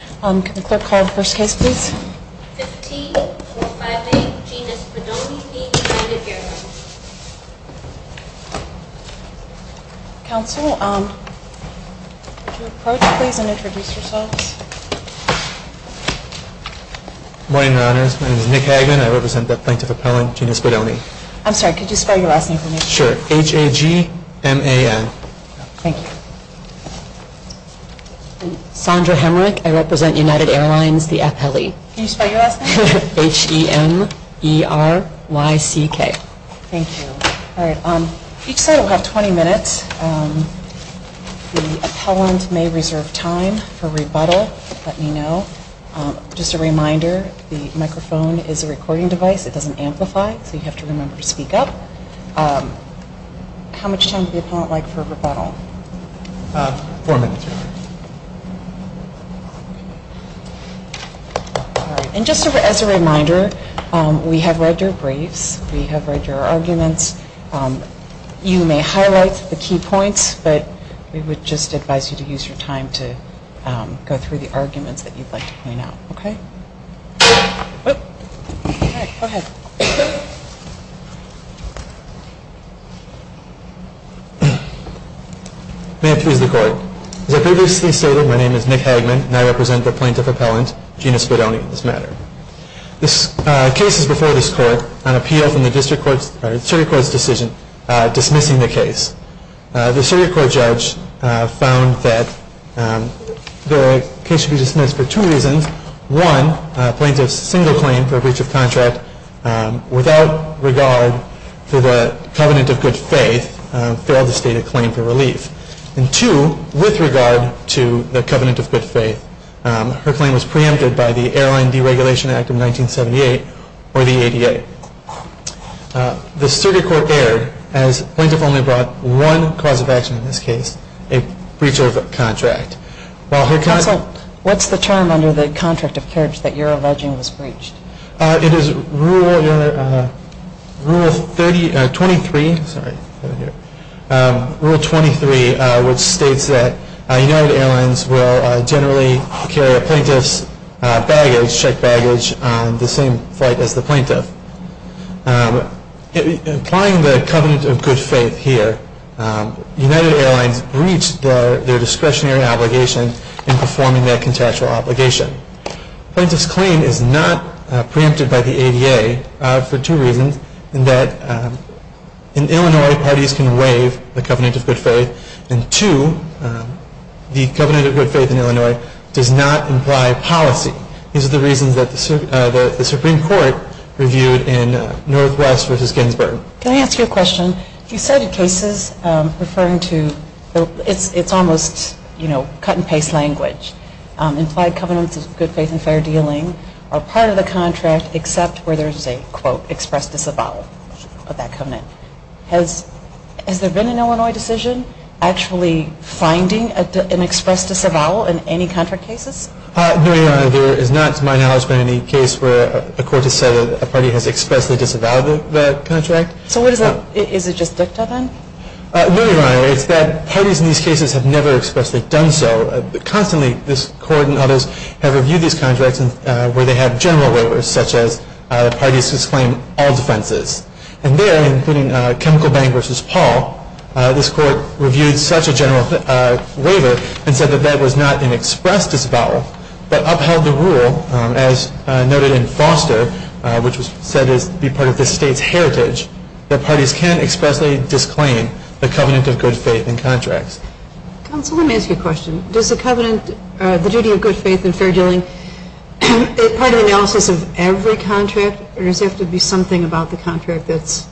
Can the clerk call the first case, please? 15-45A, Genis Spadoni v. United Airlines. Counsel, would you approach, please, and introduce yourselves? Good morning, Your Honors. My name is Nick Hagman. I represent the plaintiff appellant, Genis Spadoni. I'm sorry, could you spell your last name for me? Sure. H-A-G-M-A-N. Thank you. I'm Sondra Hemrick. I represent United Airlines, the appellee. Can you spell your last name? H-E-M-E-R-Y-C-K. Thank you. Each side will have 20 minutes. The appellant may reserve time for rebuttal. Let me know. Just a reminder, the microphone is a recording device. It doesn't amplify, so you have to remember to speak up. How much time would the appellant like for rebuttal? Four minutes, Your Honors. All right. And just as a reminder, we have read your briefs. We have read your arguments. You may highlight the key points, but we would just advise you to use your time to go through the arguments that you'd like to point out. Okay? All right. Go ahead. May it please the Court. As I previously stated, my name is Nick Hagman, and I represent the plaintiff appellant, Gina Spadoni, in this matter. This case is before this Court on appeal from the District Court's decision dismissing the case. The Circuit Court judge found that the case should be dismissed for two reasons. One, plaintiff's single claim for a breach of contract without regard to the covenant of good faith failed to state a claim for relief. And two, with regard to the covenant of good faith, her claim was preempted by the Airline Deregulation Act of 1978 or the ADA. The Circuit Court erred as plaintiff only brought one cause of action in this case, a breach of contract. Counsel, what's the term under the contract of carriage that you're alleging was breached? It is Rule 23, which states that United Airlines will generally carry a plaintiff's checked baggage on the same flight as the plaintiff. Implying the covenant of good faith here, United Airlines breached their discretionary obligation in performing that contractual obligation. Plaintiff's claim is not preempted by the ADA for two reasons. In that in Illinois, parties can waive the covenant of good faith. And two, the covenant of good faith in Illinois does not imply policy. These are the reasons that the Supreme Court reviewed in Northwest v. Ginsburg. Can I ask you a question? You cited cases referring to, it's almost, you know, cut and paste language. Implied covenants of good faith and fair dealing are part of the contract except where there's a, quote, express disavowal of that covenant. Has there been an Illinois decision actually finding an express disavowal in any contract cases? No, Your Honor. There is not, to my knowledge, been any case where a court has said that a party has expressly disavowed that contract. So what is that? Is it just dicta then? No, Your Honor. It's that parties in these cases have never expressly done so. Constantly, this court and others have reviewed these contracts where they have general waivers, such as parties who claim all defenses. And there, including Chemical Bank v. Paul, this court reviewed such a general waiver and said that that was not an express disavowal, but upheld the rule, as noted in Foster, which was said to be part of the state's heritage, that parties can expressly disclaim the covenant of good faith in contracts. Counsel, let me ask you a question. Does the covenant, the duty of good faith and fair dealing, is it part of the analysis of every contract, or does it have to be something about the contract that's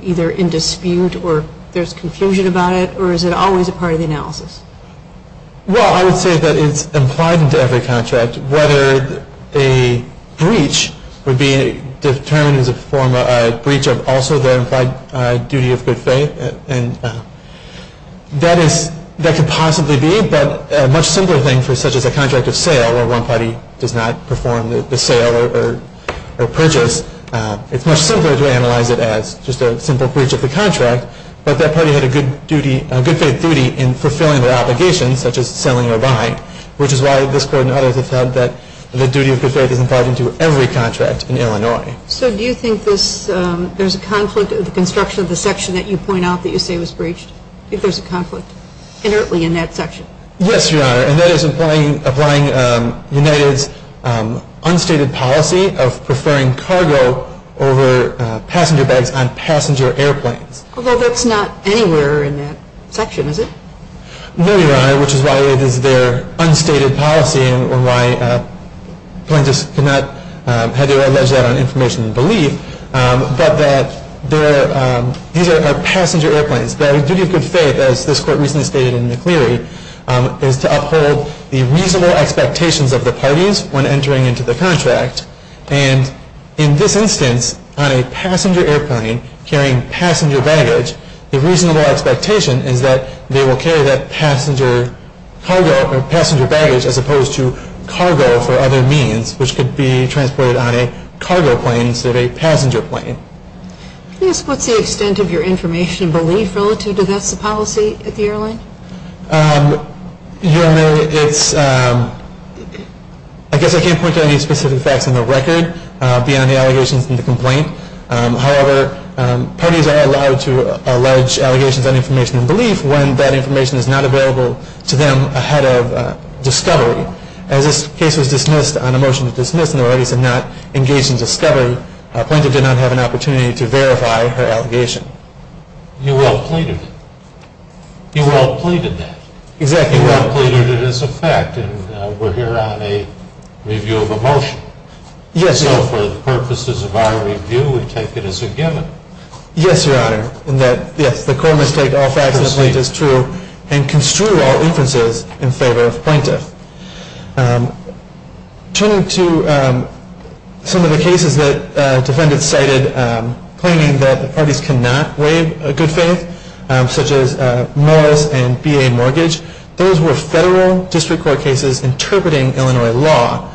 either in dispute or there's confusion about it, or is it always a part of the analysis? Well, I would say that it's implied into every contract, whether a breach would be determined as a breach of also the implied duty of good faith. That could possibly be, but a much simpler thing, such as a contract of sale, where one party does not perform the sale or purchase, it's much simpler to analyze it as just a simple breach of the contract, but that party had a good faith duty in fulfilling their obligation, such as selling or buying, which is why this court and others have said that the duty of good faith is implied into every contract in Illinois. So do you think there's a conflict of the construction of the section that you point out that you say was breached, if there's a conflict inherently in that section? Yes, Your Honor, and that is applying United's unstated policy of preferring cargo over passenger bags on passenger airplanes. Although that's not anywhere in that section, is it? No, Your Honor, which is why it is their unstated policy and why plaintiffs cannot have to allege that on information and belief, but that these are passenger airplanes. Their duty of good faith, as this court recently stated in the Cleary, is to uphold the reasonable expectations of the parties when entering into the contract. And in this instance, on a passenger airplane carrying passenger baggage, the reasonable expectation is that they will carry that passenger cargo or passenger baggage as opposed to cargo for other means, which could be transported on a cargo plane instead of a passenger plane. Yes, what's the extent of your information and belief relative to this policy at the airline? Your Honor, it's, I guess I can't point to any specific facts on the record beyond the allegations in the complaint. However, parties are allowed to allege allegations on information and belief when that information is not available to them ahead of discovery. As this case was dismissed on a motion to dismiss and the parties did not engage in discovery, plaintiff did not have an opportunity to verify her allegation. You well pleaded it. You well pleaded that. Exactly. You well pleaded it as a fact, and we're here on a review of a motion. Yes, Your Honor. So for the purposes of our review, we take it as a given. Yes, Your Honor, in that, yes, the court must take all facts in the complaint as true and construe all inferences in favor of plaintiff. Turning to some of the cases that defendants cited, claiming that the parties cannot waive a good faith, such as Morris and BA Mortgage, those were federal district court cases interpreting Illinois law.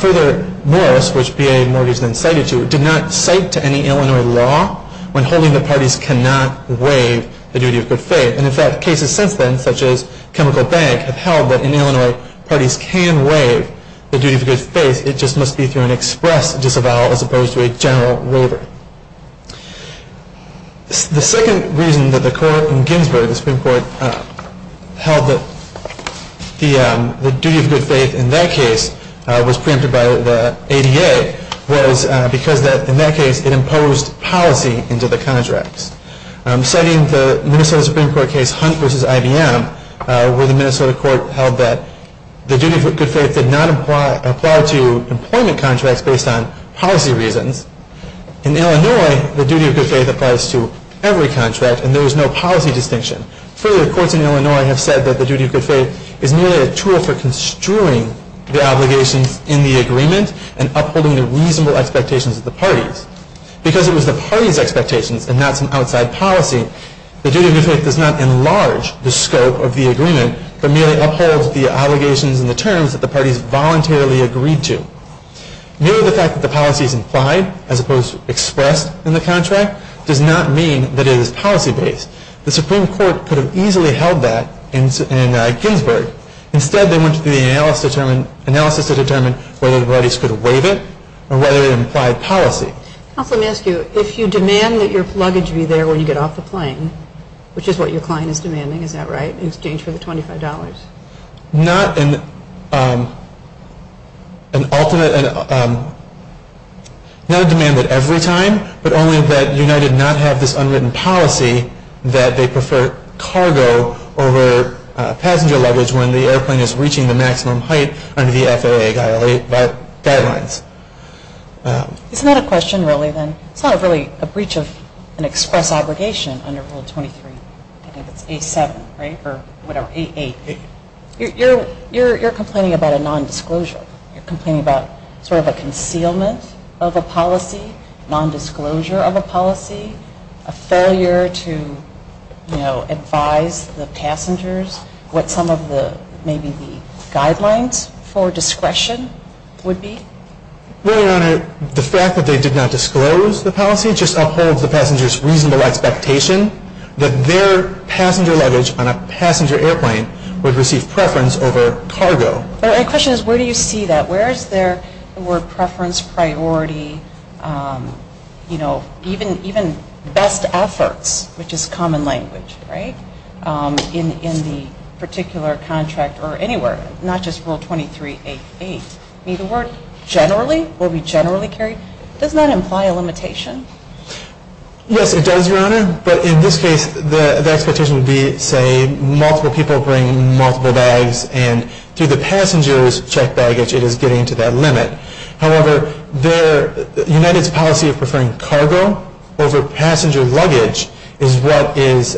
Further, Morris, which BA Mortgage then cited to, did not cite to any Illinois law when holding that parties cannot waive the duty of good faith. And, in fact, cases since then, such as Chemical Bank, have held that in Illinois parties can waive the duty of good faith, it just must be through an express disavowal as opposed to a general waiver. The second reason that the court in Ginsburg, the Supreme Court, held that the duty of good faith in that case was preempted by the ADA was because in that case it imposed policy into the contracts. Citing the Minnesota Supreme Court case Hunt v. IBM, where the Minnesota court held that the duty of good faith did not apply to employment contracts based on policy reasons. In Illinois, the duty of good faith applies to every contract, and there was no policy distinction. Further, courts in Illinois have said that the duty of good faith is merely a tool for construing the obligations in the agreement and upholding the reasonable expectations of the parties. Because it was the parties' expectations and not some outside policy, the duty of good faith does not enlarge the scope of the agreement, but merely upholds the obligations and the terms that the parties voluntarily agreed to. Merely the fact that the policy is implied, as opposed to expressed in the contract, does not mean that it is policy based. The Supreme Court could have easily held that in Ginsburg. Instead, they went through the analysis to determine whether the parties could waive it or whether it implied policy. Counsel, let me ask you, if you demand that your luggage be there when you get off the plane, which is what your client is demanding, is that right, in exchange for the $25? Not an ultimate, not a demand that every time, but only that United not have this unwritten policy that they prefer cargo over passenger luggage when the airplane is reaching the maximum height under the FAA guidelines. It's not a question, really, then. It's not really a breach of an express obligation under Rule 23. I think it's A7, right, or whatever, A8. You're complaining about a nondisclosure. You're complaining about sort of a concealment of a policy, nondisclosure of a policy, a failure to, you know, advise the passengers what some of the maybe the guidelines for discretion would be. Well, Your Honor, the fact that they did not disclose the policy just upholds the passengers' reasonable expectation that their passenger luggage on a passenger airplane would receive preference over cargo. But my question is, where do you see that? Where is there the word preference, priority, you know, even best efforts, which is common language, right, in the particular contract or anywhere, not just Rule 23.8.8. I mean, the word generally, will be generally carried, does that imply a limitation? Yes, it does, Your Honor, but in this case, the expectation would be, say, that multiple people bring multiple bags, and through the passengers' checked baggage, it is getting to that limit. However, United's policy of preferring cargo over passenger luggage is what is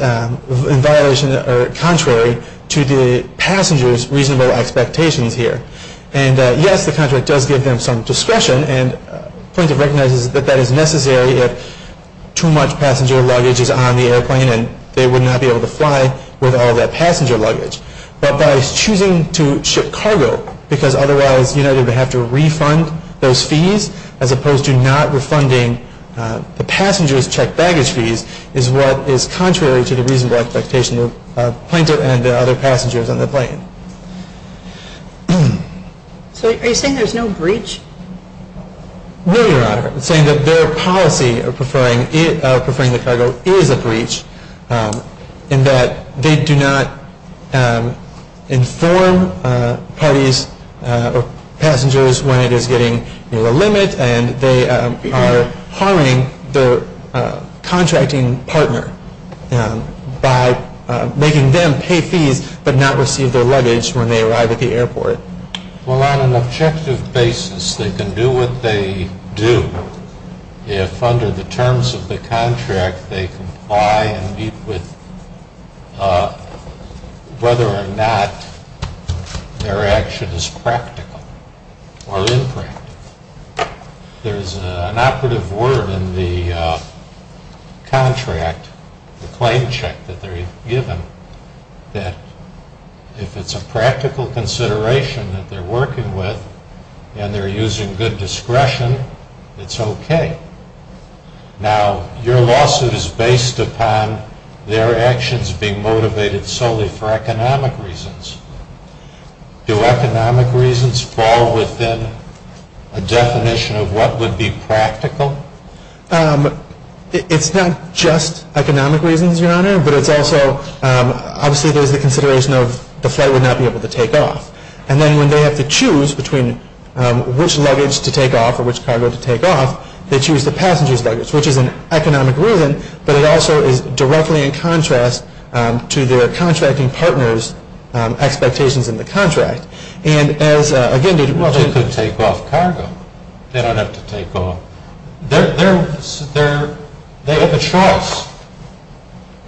contrary to the passengers' reasonable expectations here. And yes, the contract does give them some discretion, and plaintiff recognizes that that is necessary if too much passenger luggage is on the airplane and they would not be able to fly with all that passenger luggage. But by choosing to ship cargo, because otherwise United would have to refund those fees, as opposed to not refunding the passengers' checked baggage fees, is what is contrary to the reasonable expectation of plaintiff and other passengers on the plane. So are you saying there's no breach? No, Your Honor. I'm saying that their policy of preferring the cargo is a breach, in that they do not inform parties or passengers when it is getting near the limit, and they are harming their contracting partner by making them pay fees but not receive their luggage when they arrive at the airport. Well, on an objective basis, they can do what they do if under the terms of the contract they comply and meet with whether or not their action is practical or impractical. There is an operative word in the contract, the claim check that they are given, that if it's a practical consideration that they're working with and they're using good discretion, it's okay. Now, your lawsuit is based upon their actions being motivated solely for economic reasons. Do economic reasons fall within a definition of what would be practical? It's not just economic reasons, Your Honor, but it's also obviously there's the consideration of the flight would not be able to take off. And then when they have to choose between which luggage to take off or which cargo to take off, they choose the passenger's luggage, which is an economic reason, but it also is directly in contrast to their contracting partner's expectations in the contract. Well, they could take off cargo. They don't have to take off. They have a choice.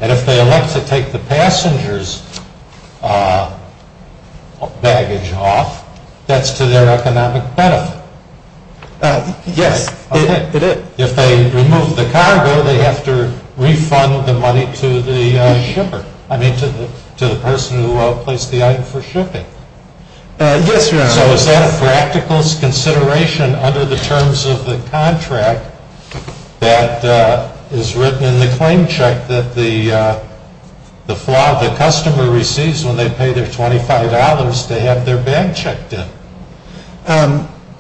And if they elect to take the passenger's baggage off, that's to their economic benefit. Yes, it is. If they remove the cargo, they have to refund the money to the shipper, I mean to the person who placed the item for shipping. Yes, Your Honor. So is that a practical consideration under the terms of the contract that is written in the claim check that the customer receives when they pay their $25 to have their bag checked in?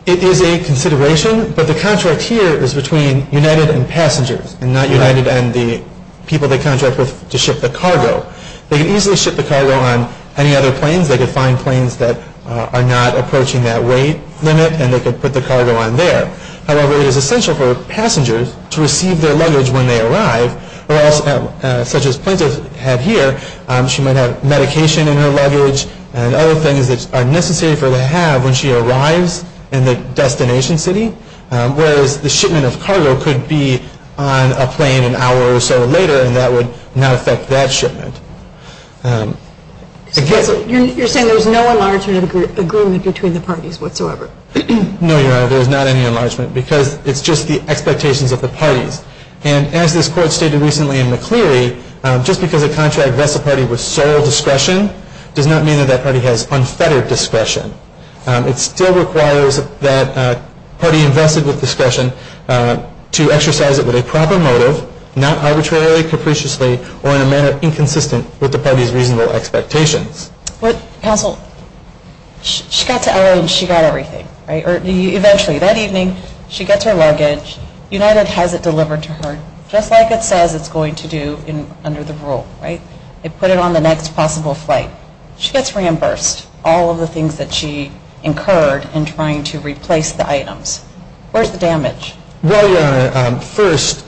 It is a consideration, but the contract here is between United and passengers and not United and the people they contract with to ship the cargo. They can easily ship the cargo on any other planes. They could find planes that are not approaching that weight limit, and they could put the cargo on there. However, it is essential for passengers to receive their luggage when they arrive, such as Plaintiff had here. She might have medication in her luggage and other things that are necessary for her to have when she arrives in the destination city, whereas the shipment of cargo could be on a plane an hour or so later and that would not affect that shipment. You're saying there's no enlargement agreement between the parties whatsoever? No, Your Honor, there's not any enlargement because it's just the expectations of the parties. And as this Court stated recently in McCleary, just because a contract vests a party with sole discretion does not mean that that party has unfettered discretion. It still requires that a party invested with discretion to exercise it with a proper motive, not arbitrarily, capriciously, or in a manner inconsistent with the party's reasonable expectations. Counsel, she got to LA and she got everything, right? Eventually, that evening, she gets her luggage. United has it delivered to her just like it says it's going to do under the rule, right? They put it on the next possible flight. She gets reimbursed. All of the things that she incurred in trying to replace the items. Where's the damage? Well, Your Honor, first,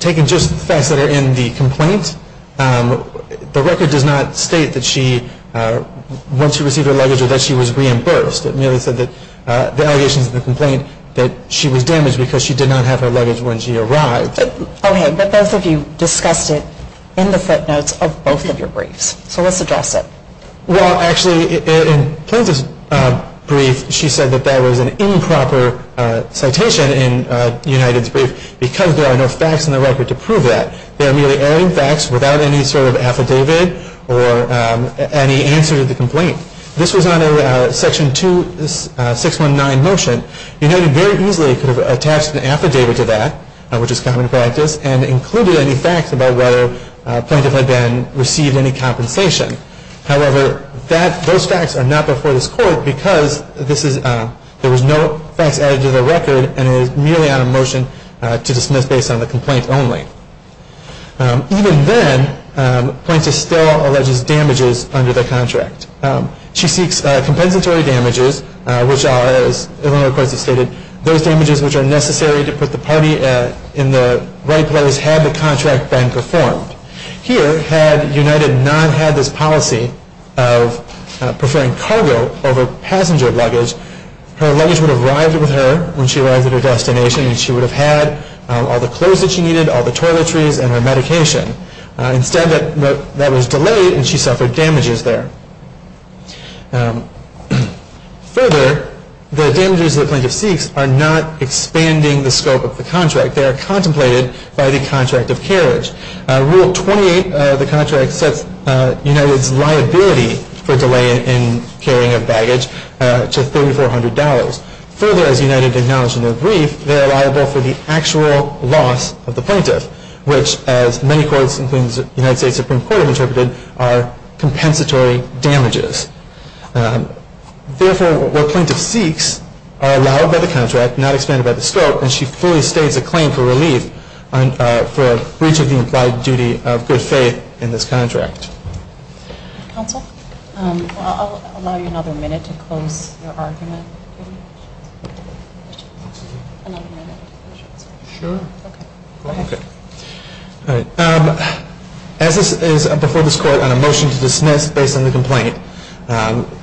taking just the facts that are in the complaint, the record does not state that once she received her luggage or that she was reimbursed. It merely said that the allegations of the complaint that she was damaged because she did not have her luggage when she arrived. Okay, but both of you discussed it in the footnotes of both of your briefs. So let's address it. Well, actually, in Plaintiff's brief, she said that that was an improper citation in United's brief because there are no facts in the record to prove that. There are merely erring facts without any sort of affidavit or any answer to the complaint. This was on a Section 2619 motion. United very easily could have attached an affidavit to that, which is common practice, and included any facts about whether Plaintiff had received any compensation. However, those facts are not before this Court because there was no facts added to the record and it is merely on a motion to dismiss based on the complaint only. Even then, Plaintiff still alleges damages under the contract. She seeks compensatory damages, which are, as Illinois courts have stated, those damages which are necessary to put the party in the right place had the contract been performed. Here, had United not had this policy of preferring cargo over passenger luggage, her luggage would have arrived with her when she arrived at her destination and she would have had all the clothes that she needed, all the toiletries, and her medication. Instead, that was delayed and she suffered damages there. Further, the damages that Plaintiff seeks are not expanding the scope of the contract. They are contemplated by the contract of carriage. Rule 28 of the contract sets United's liability for delay in carrying of baggage to $3,400. Further, as United acknowledged in their brief, they are liable for the actual loss of the Plaintiff, which, as many courts, including the United States Supreme Court have interpreted, are compensatory damages. Therefore, what Plaintiff seeks are allowed by the contract, not expanded by the scope, and she fully states a claim for relief for breach of the implied duty of good faith in this contract. Counsel, I'll allow you another minute to close your argument. As this is before this Court on a motion to dismiss based on the complaint,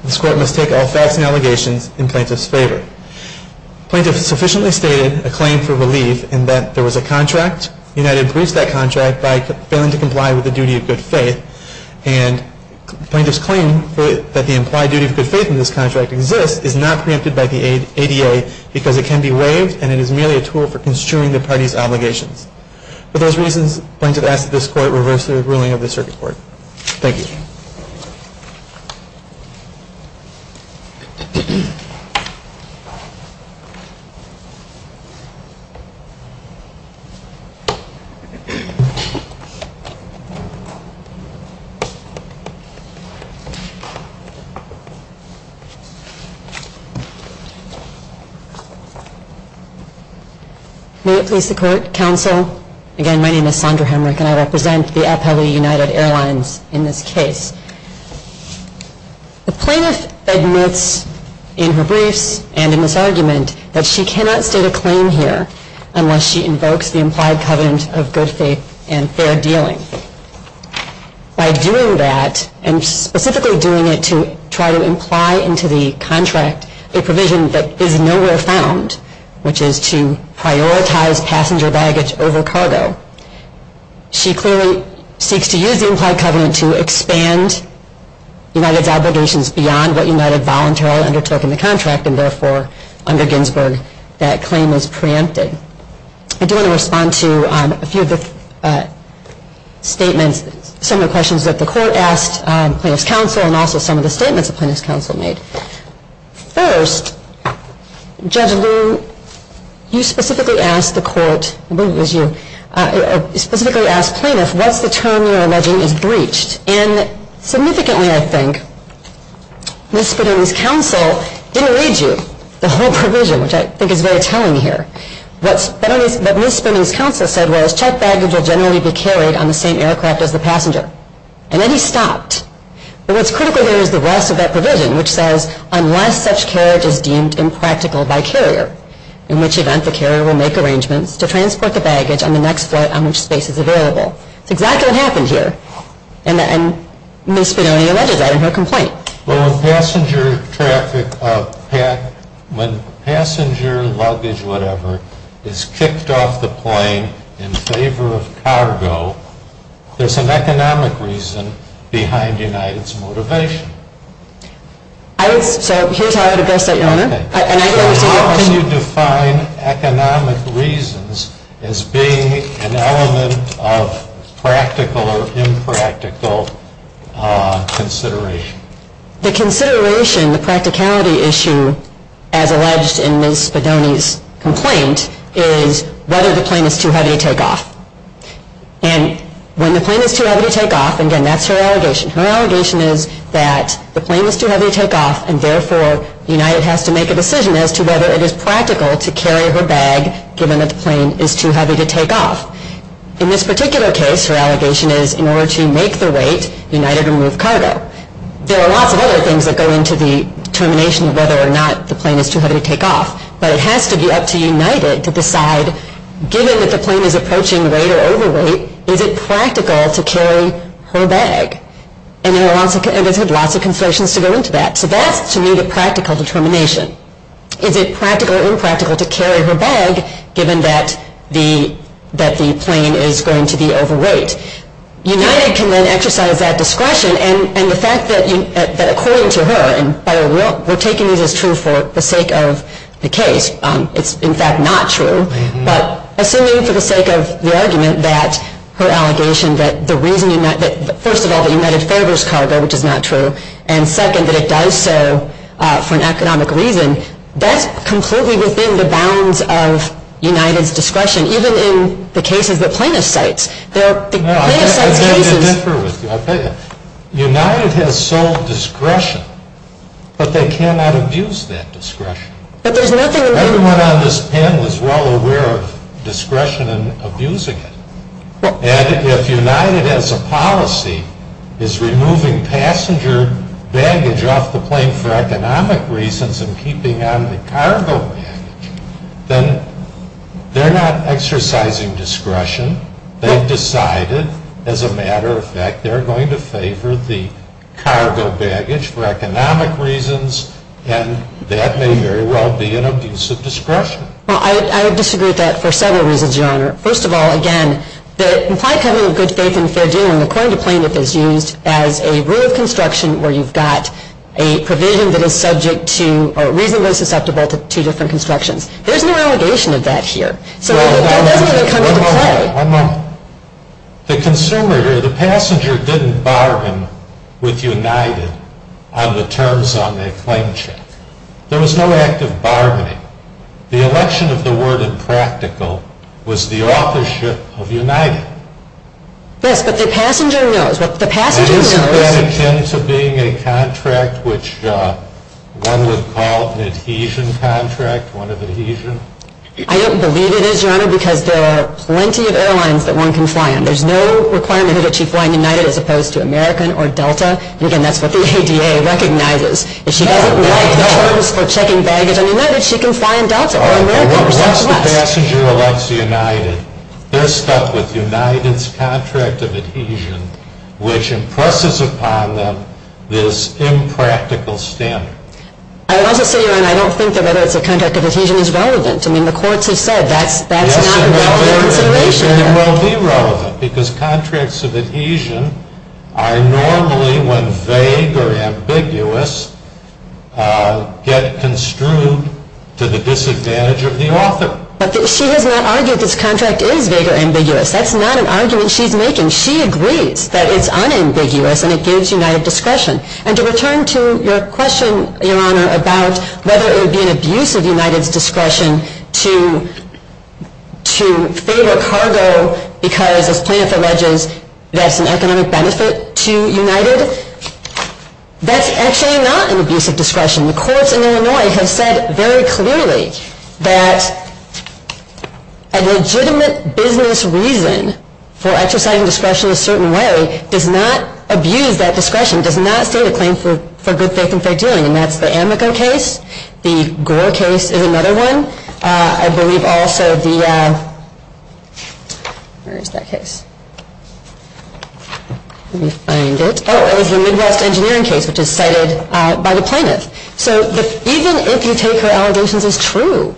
this Court must take all facts and allegations in Plaintiff's favor. Plaintiff sufficiently stated a claim for relief in that there was a contract, United breached that contract by failing to comply with the duty of good faith, and Plaintiff's claim that the implied duty of good faith in this contract exists is not preempted by the ADA because it can be waived and it is merely a tool for construing the party's obligations. For those reasons, Plaintiff asks that this Court reverse the ruling of the Circuit Court. Thank you. May it please the Court, Counsel, again, my name is Sondra Hemrick, and I represent the Appellee United Airlines in this case. The Plaintiff admits in her briefs and in this argument that she cannot state a claim here unless she invokes the implied covenant of good faith in the contract. By doing that, and specifically doing it to try to imply into the contract a provision that is nowhere found, which is to prioritize passenger baggage over cargo, she clearly seeks to use the implied covenant to expand United's obligations beyond what United voluntarily undertook in the contract, and therefore, under Ginsburg, that claim is preempted. I do want to respond to a few of the statements, some of the questions that the Court asked Plaintiff's Counsel, and also some of the statements that Plaintiff's Counsel made. First, Judge Liu, you specifically asked the Court, I believe it was you, specifically asked Plaintiff, what's the term you're alleging is breached? And significantly, I think, Ms. Spadone's Counsel didn't read you the whole provision, which I think is very telling here. What Ms. Spadone's Counsel said was, checked baggage will generally be carried on the same aircraft as the passenger. And then he stopped. But what's critical here is the rest of that provision, which says, unless such carriage is deemed impractical by carrier, in which event the carrier will make arrangements to transport the baggage on the next flight on which space is available. It's exactly what happened here. And Ms. Spadone alleges that in her complaint. When passenger luggage, whatever, is kicked off the plane in favor of cargo, there's an economic reason behind United's motivation. So here's how I would address that, Your Honor. How can you define economic reasons as being an element of practical or impractical consideration? The consideration, the practicality issue, as alleged in Ms. Spadone's complaint, is whether the plane is too heavy to take off. And when the plane is too heavy to take off, again, that's her allegation. Her allegation is that the plane is too heavy to take off, and therefore United has to make a decision as to whether it is practical to carry her bag, given that the plane is too heavy to take off. In this particular case, her allegation is, in order to make the weight, United removed cargo. There are lots of other things that go into the determination of whether or not the plane is too heavy to take off, but it has to be up to United to decide, given that the plane is approaching weight or overweight, is it practical to carry her bag? And there's lots of considerations to go into that. So that's, to me, the practical determination. Is it practical or impractical to carry her bag, given that the plane is going to be overweight? United can then exercise that discretion, and the fact that according to her, and by the way, we're taking this as true for the sake of the case. It's, in fact, not true. But assuming for the sake of the argument that her allegation that the reason that, first of all, that United favors cargo, which is not true, and second, that it does so for an economic reason, that's completely within the bounds of United's discretion, even in the cases that plaintiffs cite. There are plaintiffs' case cases. No, I'd like to differ with you. I'll tell you. United has sole discretion, but they cannot abuse that discretion. But there's nothing in there. Everyone on this panel is well aware of discretion and abusing it. And if United, as a policy, is removing passenger baggage off the plane for economic reasons and keeping on the cargo baggage, then they're not exercising discretion. They've decided, as a matter of fact, they're going to favor the cargo baggage for economic reasons, and that may very well be an abuse of discretion. Well, I would disagree with that for several reasons, Your Honor. First of all, again, the implied covenant of good faith and fair dealing, according to plaintiff, is used as a rule of construction where you've got a provision that is subject to or reasonably susceptible to two different constructions. There's no allegation of that here. So that doesn't really come into play. One moment. The consumer here, the passenger, didn't bargain with United on the terms on their claim check. There was no act of bargaining. The election of the word impractical was the authorship of United. Yes, but the passenger knows. Isn't that akin to being a contract which one would call an adhesion contract, one of adhesion? I don't believe it is, Your Honor, because there are plenty of airlines that one can fly in. There's no requirement that you fly in United as opposed to American or Delta. And, again, that's what the ADA recognizes. If she doesn't like the terms for checking baggage on United, she can fly in Delta or American. Once the passenger elects United, they're stuck with United's contract of adhesion, which impresses upon them this impractical standard. I would also say, Your Honor, I don't think that whether it's a contract of adhesion is relevant. I mean, the courts have said that's not a relevant consideration. It will be relevant because contracts of adhesion are normally, when vague or ambiguous, get construed to the disadvantage of the author. But she has not argued this contract is vague or ambiguous. That's not an argument she's making. She agrees that it's unambiguous and it gives United discretion. And to return to your question, Your Honor, about whether it would be an abuse of United's discretion to favor cargo because, as Plaintiff alleges, that's an economic benefit to United, that's actually not an abuse of discretion. The courts in Illinois have said very clearly that a legitimate business reason for exercising discretion in a certain way does not abuse that discretion, does not state a claim for good faith and fair dealing. And that's the Amico case. The Gore case is another one. I believe also the, where is that case? Let me find it. Oh, it was the Midwest engineering case, which is cited by the Plaintiff. So even if you take her allegations as true,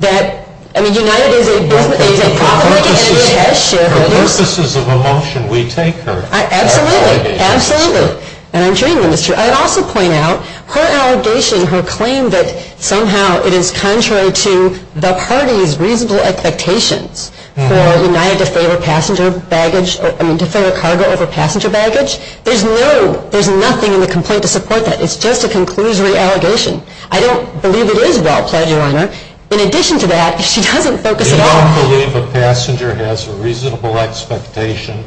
that, I mean, United is a profit-making entity. It has shareholders. For purposes of a motion, we take her allegations. Absolutely. Absolutely. And I'm sure you will, Mr. But I'd also point out her allegation, her claim that somehow it is contrary to the party's reasonable expectations for United to favor passenger baggage, I mean, to favor cargo over passenger baggage, there's no, there's nothing in the complaint to support that. It's just a conclusory allegation. I don't believe it is well-pledged, Your Honor. I don't believe a passenger has a reasonable expectation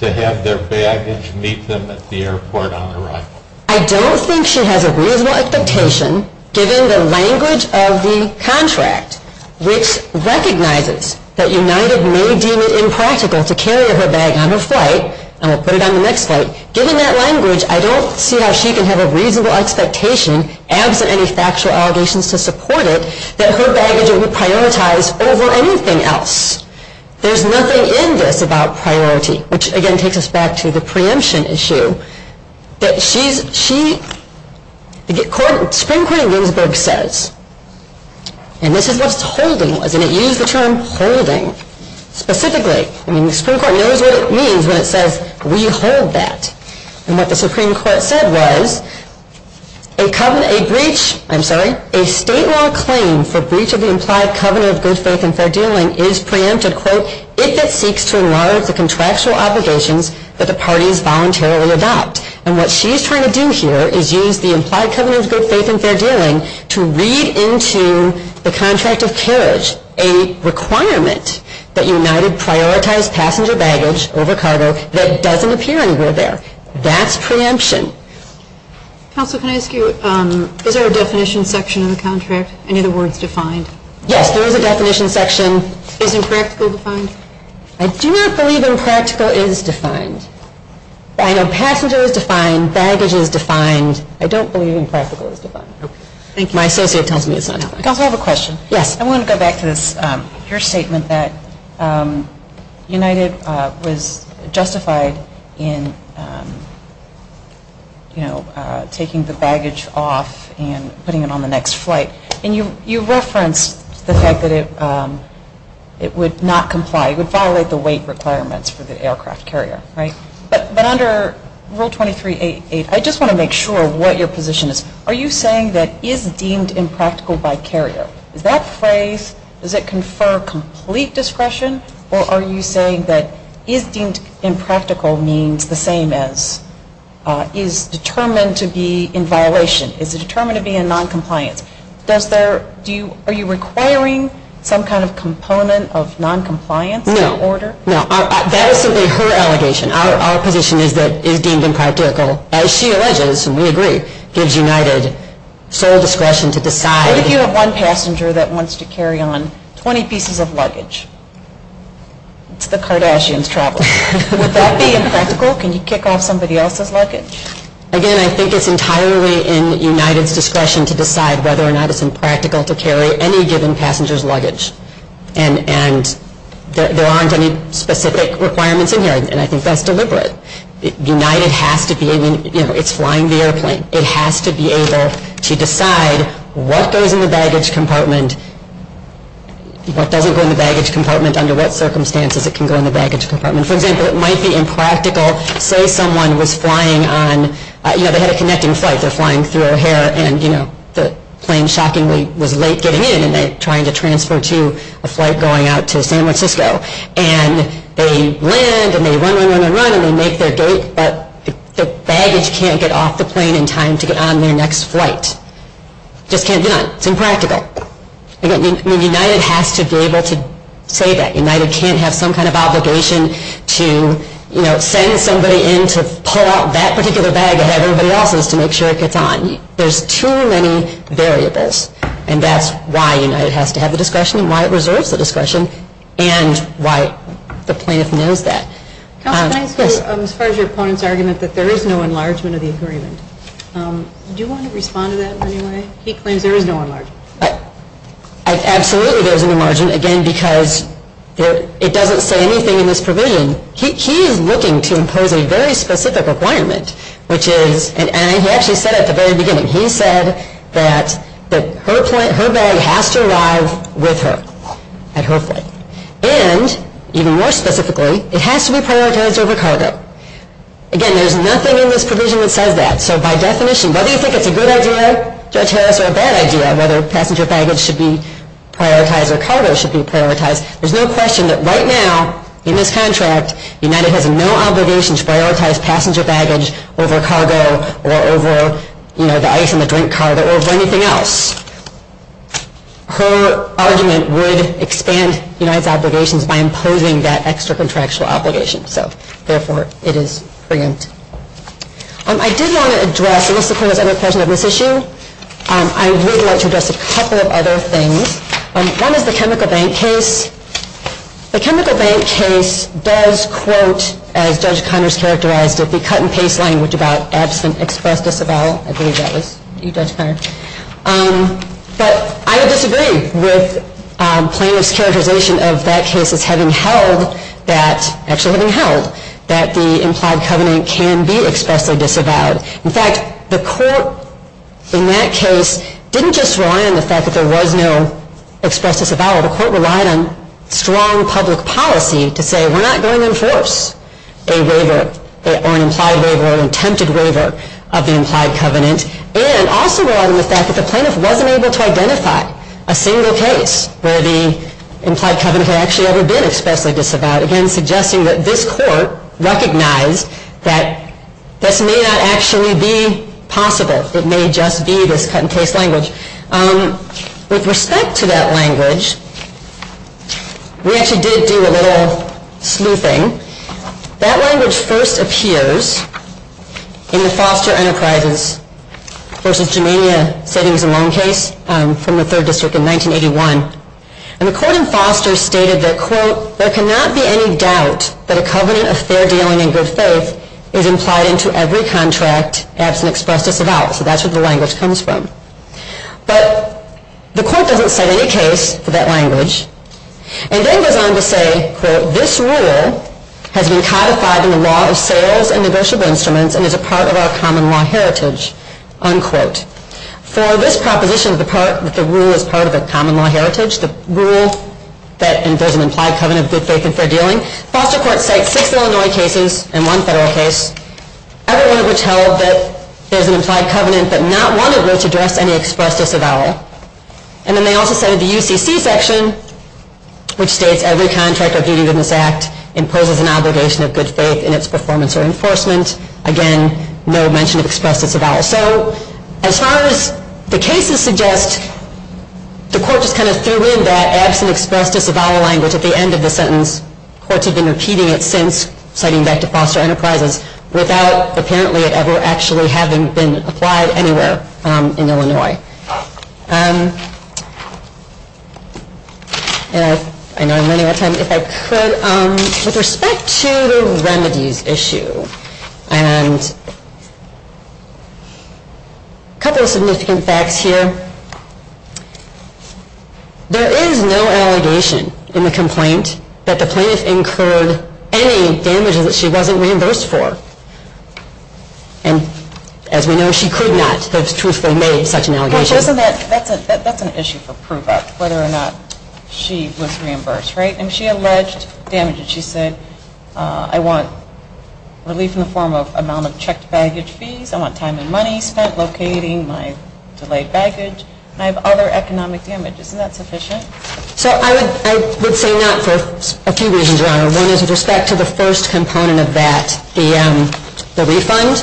to have their baggage meet them at the airport on arrival. I don't think she has a reasonable expectation, given the language of the contract, which recognizes that United may deem it impractical to carry her bag on her flight, and will put it on the next flight. Given that language, I don't see how she can have a reasonable expectation, absent any factual allegations to support it, that her baggage would be prioritized over anything else. There's nothing in this about priority. Which, again, takes us back to the preemption issue. That she, the Supreme Court in Ginsburg says, and this is what holding was, and it used the term holding specifically. I mean, the Supreme Court knows what it means when it says, we hold that. And what the Supreme Court said was, a state law claim for breach of the implied covenant of good faith and fair dealing is preempted, quote, if it seeks to enlarge the contractual obligations that the parties voluntarily adopt. And what she's trying to do here is use the implied covenant of good faith and fair dealing to read into the contract of carriage a requirement that United prioritize passenger baggage over cargo that doesn't appear anywhere there. That's preemption. Counsel, can I ask you, is there a definition section in the contract? Any of the words defined? Yes, there is a definition section. Is impractical defined? I do not believe impractical is defined. I know passenger is defined, baggage is defined. I don't believe impractical is defined. My associate tells me it's not. Counsel, I have a question. Yes. I want to go back to this, your statement that United was justified in, you know, taking the baggage off and putting it on the next flight. And you referenced the fact that it would not comply. It would violate the weight requirements for the aircraft carrier, right? But under Rule 23.88, I just want to make sure what your position is. Are you saying that is deemed impractical by carrier? Does that phrase, does it confer complete discretion? Or are you saying that is deemed impractical means the same as is determined to be in violation? Is it determined to be in noncompliance? Are you requiring some kind of component of noncompliance in order? No. That is simply her allegation. Our position is that is deemed impractical, as she alleges, and we agree, gives United sole discretion to decide. What if you have one passenger that wants to carry on 20 pieces of luggage? It's the Kardashians traveling. Would that be impractical? Can you kick off somebody else's luggage? Again, I think it's entirely in United's discretion to decide whether or not it's impractical to carry any given passenger's luggage. And there aren't any specific requirements in here, and I think that's deliberate. United has to be able, you know, it's flying the airplane. It has to be able to decide what goes in the baggage compartment, what doesn't go in the baggage compartment, under what circumstances it can go in the baggage compartment. For example, it might be impractical. Say someone was flying on, you know, they had a connecting flight. They're flying through O'Hare, and, you know, the plane shockingly was late getting in, and they're trying to transfer to a flight going out to San Francisco. And they land, and they run, run, run, run, and they make their gate, but the baggage can't get off the plane in time to get on their next flight. It just can't get on. It's impractical. I mean, United has to be able to say that. United can't have some kind of obligation to, you know, send somebody in to pull out that particular bag and have everybody else's to make sure it gets on. There's too many variables, and that's why United has to have the discretion and why it reserves the discretion and why the plaintiff knows that. Yes? As far as your opponent's argument that there is no enlargement of the agreement, do you want to respond to that in any way? He claims there is no enlargement. Absolutely there is no enlargement, again, because it doesn't say anything in this provision. He is looking to impose a very specific requirement, which is, and he actually said at the very beginning, he said that her bag has to arrive with her at her flight. And, even more specifically, it has to be prioritized over cargo. Again, there's nothing in this provision that says that. So by definition, whether you think it's a good idea, Judge Harris, or a bad idea, whether passenger baggage should be prioritized or cargo should be prioritized, there's no question that right now, in this contract, United has no obligation to prioritize passenger baggage over cargo or over, you know, the ice in the drink cart or over anything else. Her argument would expand United's obligations by imposing that extracontractual obligation. So, therefore, it is preempt. I did want to address, and this is a presentation of this issue, I would like to address a couple of other things. One is the chemical bank case. The chemical bank case does quote, as Judge Conners characterized it, the cut and paste language about absent express disavowal. I believe that was you, Judge Conners. But I would disagree with plaintiff's characterization of that case as having held that, actually having held, that the implied covenant can be expressly disavowed. In fact, the court in that case didn't just rely on the fact that there was no express disavowal. The court relied on strong public policy to say, we're not going to enforce a waiver, or an implied waiver, or an attempted waiver of the implied covenant. And also relied on the fact that the plaintiff wasn't able to identify a single case where the implied covenant had actually ever been expressly disavowed. Again, suggesting that this court recognized that this may not actually be possible. It may just be this cut and paste language. With respect to that language, we actually did do a little sleuthing. That language first appears in the Foster Enterprises v. Germania Savings and Loan case from the Third District in 1981. And the court in Foster stated that, quote, there cannot be any doubt that a covenant of fair dealing and good faith is implied into every contract absent express disavowal. So that's where the language comes from. But the court doesn't cite any case for that language. And then goes on to say, quote, this rule has been codified in the law of sales and negotiable instruments and is a part of our common law heritage, unquote. For this proposition that the rule is part of a common law heritage, the rule that there's an implied covenant of good faith and fair dealing, foster courts cite six Illinois cases and one federal case, every one of which held that there's an implied covenant but not one of which addressed any express disavowal. And then they also said in the UCC section, which states every contract or duty of this act imposes an obligation of good faith in its performance or enforcement. Again, no mention of express disavowal. So as far as the cases suggest, the court just kind of threw in that absent express disavowal language at the end of the sentence. Courts have been repeating it since, citing back to Foster Enterprises, without apparently it ever actually having been applied anywhere in Illinois. And I know I'm running out of time. If I could, with respect to the remedies issue, and a couple of significant facts here. There is no allegation in the complaint that the plaintiff incurred any damages that she wasn't reimbursed for. And as we know, she could not have truthfully made such an allegation. That's an issue for proof of whether or not she was reimbursed, right? And she alleged damages. She said, I want relief in the form of amount of checked baggage fees, I want time and money spent locating my delayed baggage, and I have other economic damages. Isn't that sufficient? So I would say not for a few reasons, Your Honor. One is with respect to the first component of that, the refund.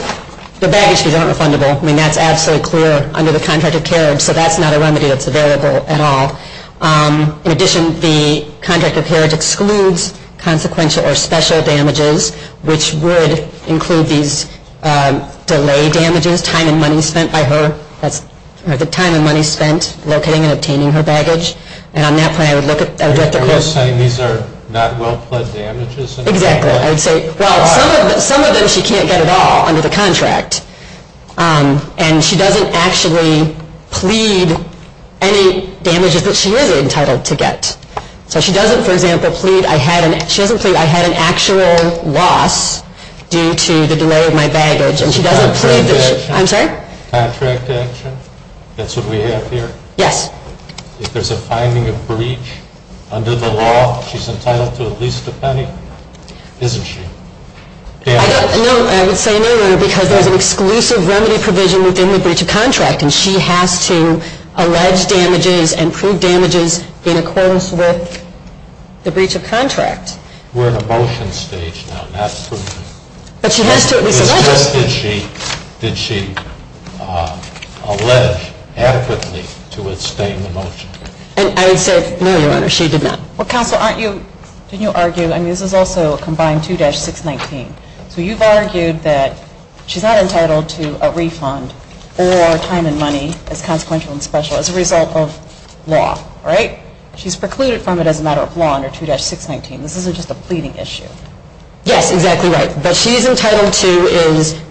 The baggage fees aren't refundable. I mean, that's absolutely clear under the contract of carriage. So that's not a remedy that's available at all. In addition, the contract of carriage excludes consequential or special damages, which would include these delay damages, time and money spent by her. And on that point, I would look at the question. You're saying these are not well pledged damages? Exactly. I would say, well, some of them she can't get at all under the contract. And she doesn't actually plead any damages that she is entitled to get. So she doesn't, for example, plead I had an actual loss due to the delay of my baggage. Contract action? I'm sorry? Contract action? That's what we have here? Yes. If there's a finding of breach under the law, she's entitled to at least a penny? Isn't she? No, I would say no, Your Honor, because there's an exclusive remedy provision within the breach of contract, and she has to allege damages and prove damages in accordance with the breach of contract. We're in a motion stage now. But she has to at least allege it. Did she allege adequately to abstain the motion? I would say no, Your Honor, she did not. Well, counsel, didn't you argue? I mean, this is also combined 2-619. So you've argued that she's not entitled to a refund or time and money as consequential and special as a result of law, right? She's precluded from it as a matter of law under 2-619. This isn't just a pleading issue. Yes, exactly right. But she's entitled to is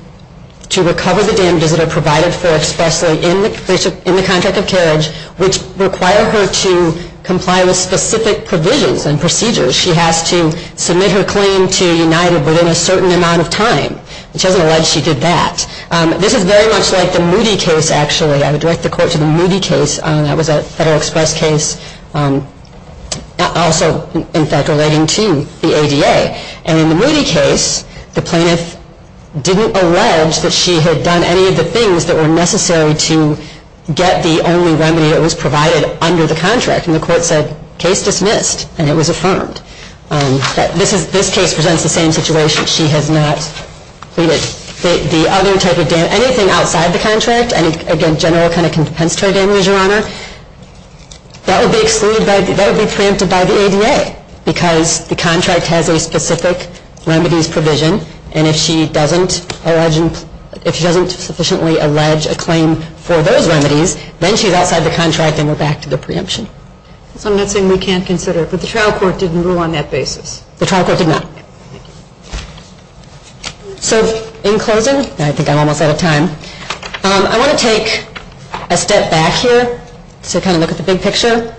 to recover the damages that are provided for expressly in the contract of carriage, which require her to comply with specific provisions and procedures. She has to submit her claim to United within a certain amount of time. She doesn't allege she did that. This is very much like the Moody case, actually. I would direct the Court to the Moody case. That was a Federal Express case also, in fact, relating to the ADA. And in the Moody case, the plaintiff didn't allege that she had done any of the things that were necessary to get the only remedy that was provided under the contract. And the Court said, case dismissed. And it was affirmed. This case presents the same situation. She has not pleaded. The other type of damage, anything outside the contract, again, general kind of compensatory damage, Your Honor, that would be preempted by the ADA because the contract has a specific remedies provision. And if she doesn't sufficiently allege a claim for those remedies, then she's outside the contract and we're back to the preemption. So I'm not saying we can't consider it. But the trial court didn't rule on that basis. The trial court did not. So in closing, I think I'm almost out of time, I want to take a step back here to kind of look at the big picture.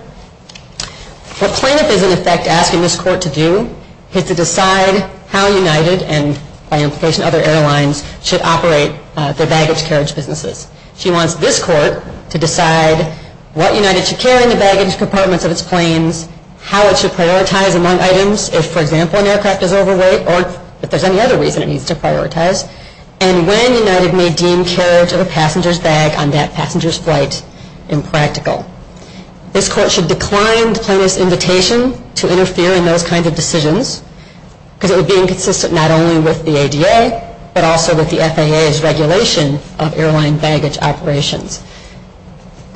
What plaintiff is, in effect, asking this Court to do is to decide how United, and by implication other airlines, should operate their baggage carriage businesses. She wants this Court to decide what United should carry in the baggage compartments of its planes, how it should prioritize among items, if, for example, an aircraft is overweight, or if there's any other reason it needs to prioritize, and when United may deem carriage of a passenger's bag on that passenger's flight impractical. This Court should decline the plaintiff's invitation to interfere in those kinds of decisions because it would be inconsistent not only with the ADA, but also with the FAA's regulation of airline baggage operations.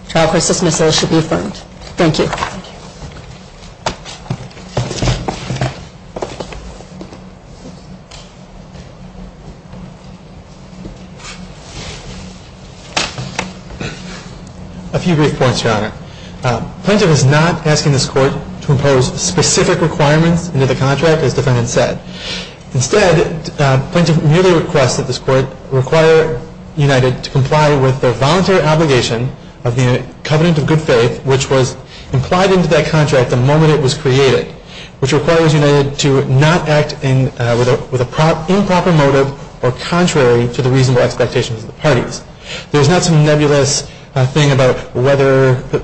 The trial court's dismissal should be affirmed. Thank you. A few brief points, Your Honor. Plaintiff is not asking this Court to impose specific requirements into the contract, as the defendant said. Instead, plaintiff merely requests that this Court require United to comply with their voluntary obligation of the covenant of good faith, which was implied into that contract the moment it was created, which requires United to not act with an improper motive or contrary to the reasonable expectations of the parties. There's not some nebulous thing about whether the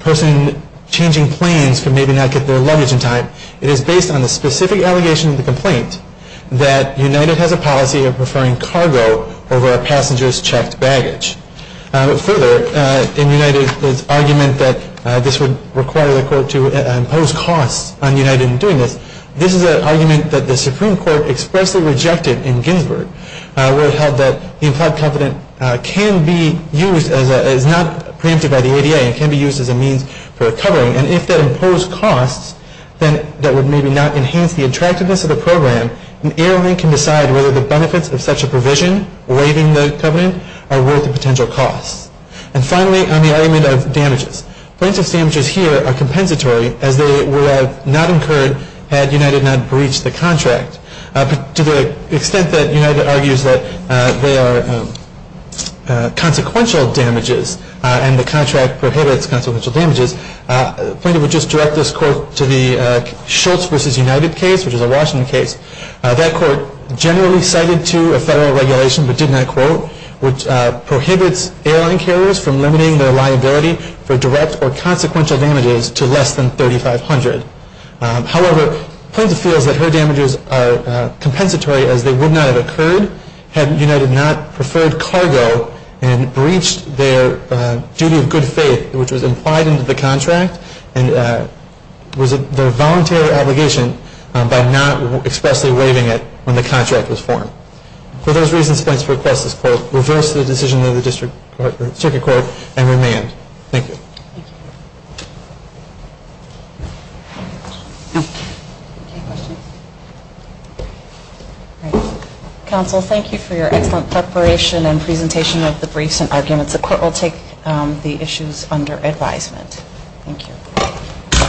person changing planes could maybe not get their luggage in time. It is based on the specific allegation of the complaint that United has a policy of preferring cargo over a passenger's checked baggage. Further, in United's argument that this would require the Court to impose costs on United in doing this, this is an argument that the Supreme Court expressly rejected in Ginsburg, where it held that the implied covenant is not preempted by the ADA and can be used as a means for covering. And if that imposed costs, then that would maybe not enhance the attractiveness of the program. An airline can decide whether the benefits of such a provision waiving the covenant are worth the potential costs. And finally, on the argument of damages, plaintiff's damages here are compensatory, as they were not incurred had United not breached the contract. But to the extent that United argues that they are consequential damages and the contract prohibits consequential damages, plaintiff would just direct this quote to the Schultz v. United case, which is a Washington case. That court generally cited to a federal regulation, but did not quote, prohibits airline carriers from limiting their liability for direct or consequential damages to less than $3,500. However, plaintiff feels that her damages are compensatory, as they would not have occurred had United not preferred cargo and breached their duty of good faith, which was implied in the contract and was their voluntary obligation by not expressly waiving it when the contract was formed. For those reasons, plaintiff requests this quote, reverse the decision of the district court and remand. Thank you. Counsel, thank you for your excellent preparation and presentation of the briefs and arguments. The court will take the issues under advisement. Thank you.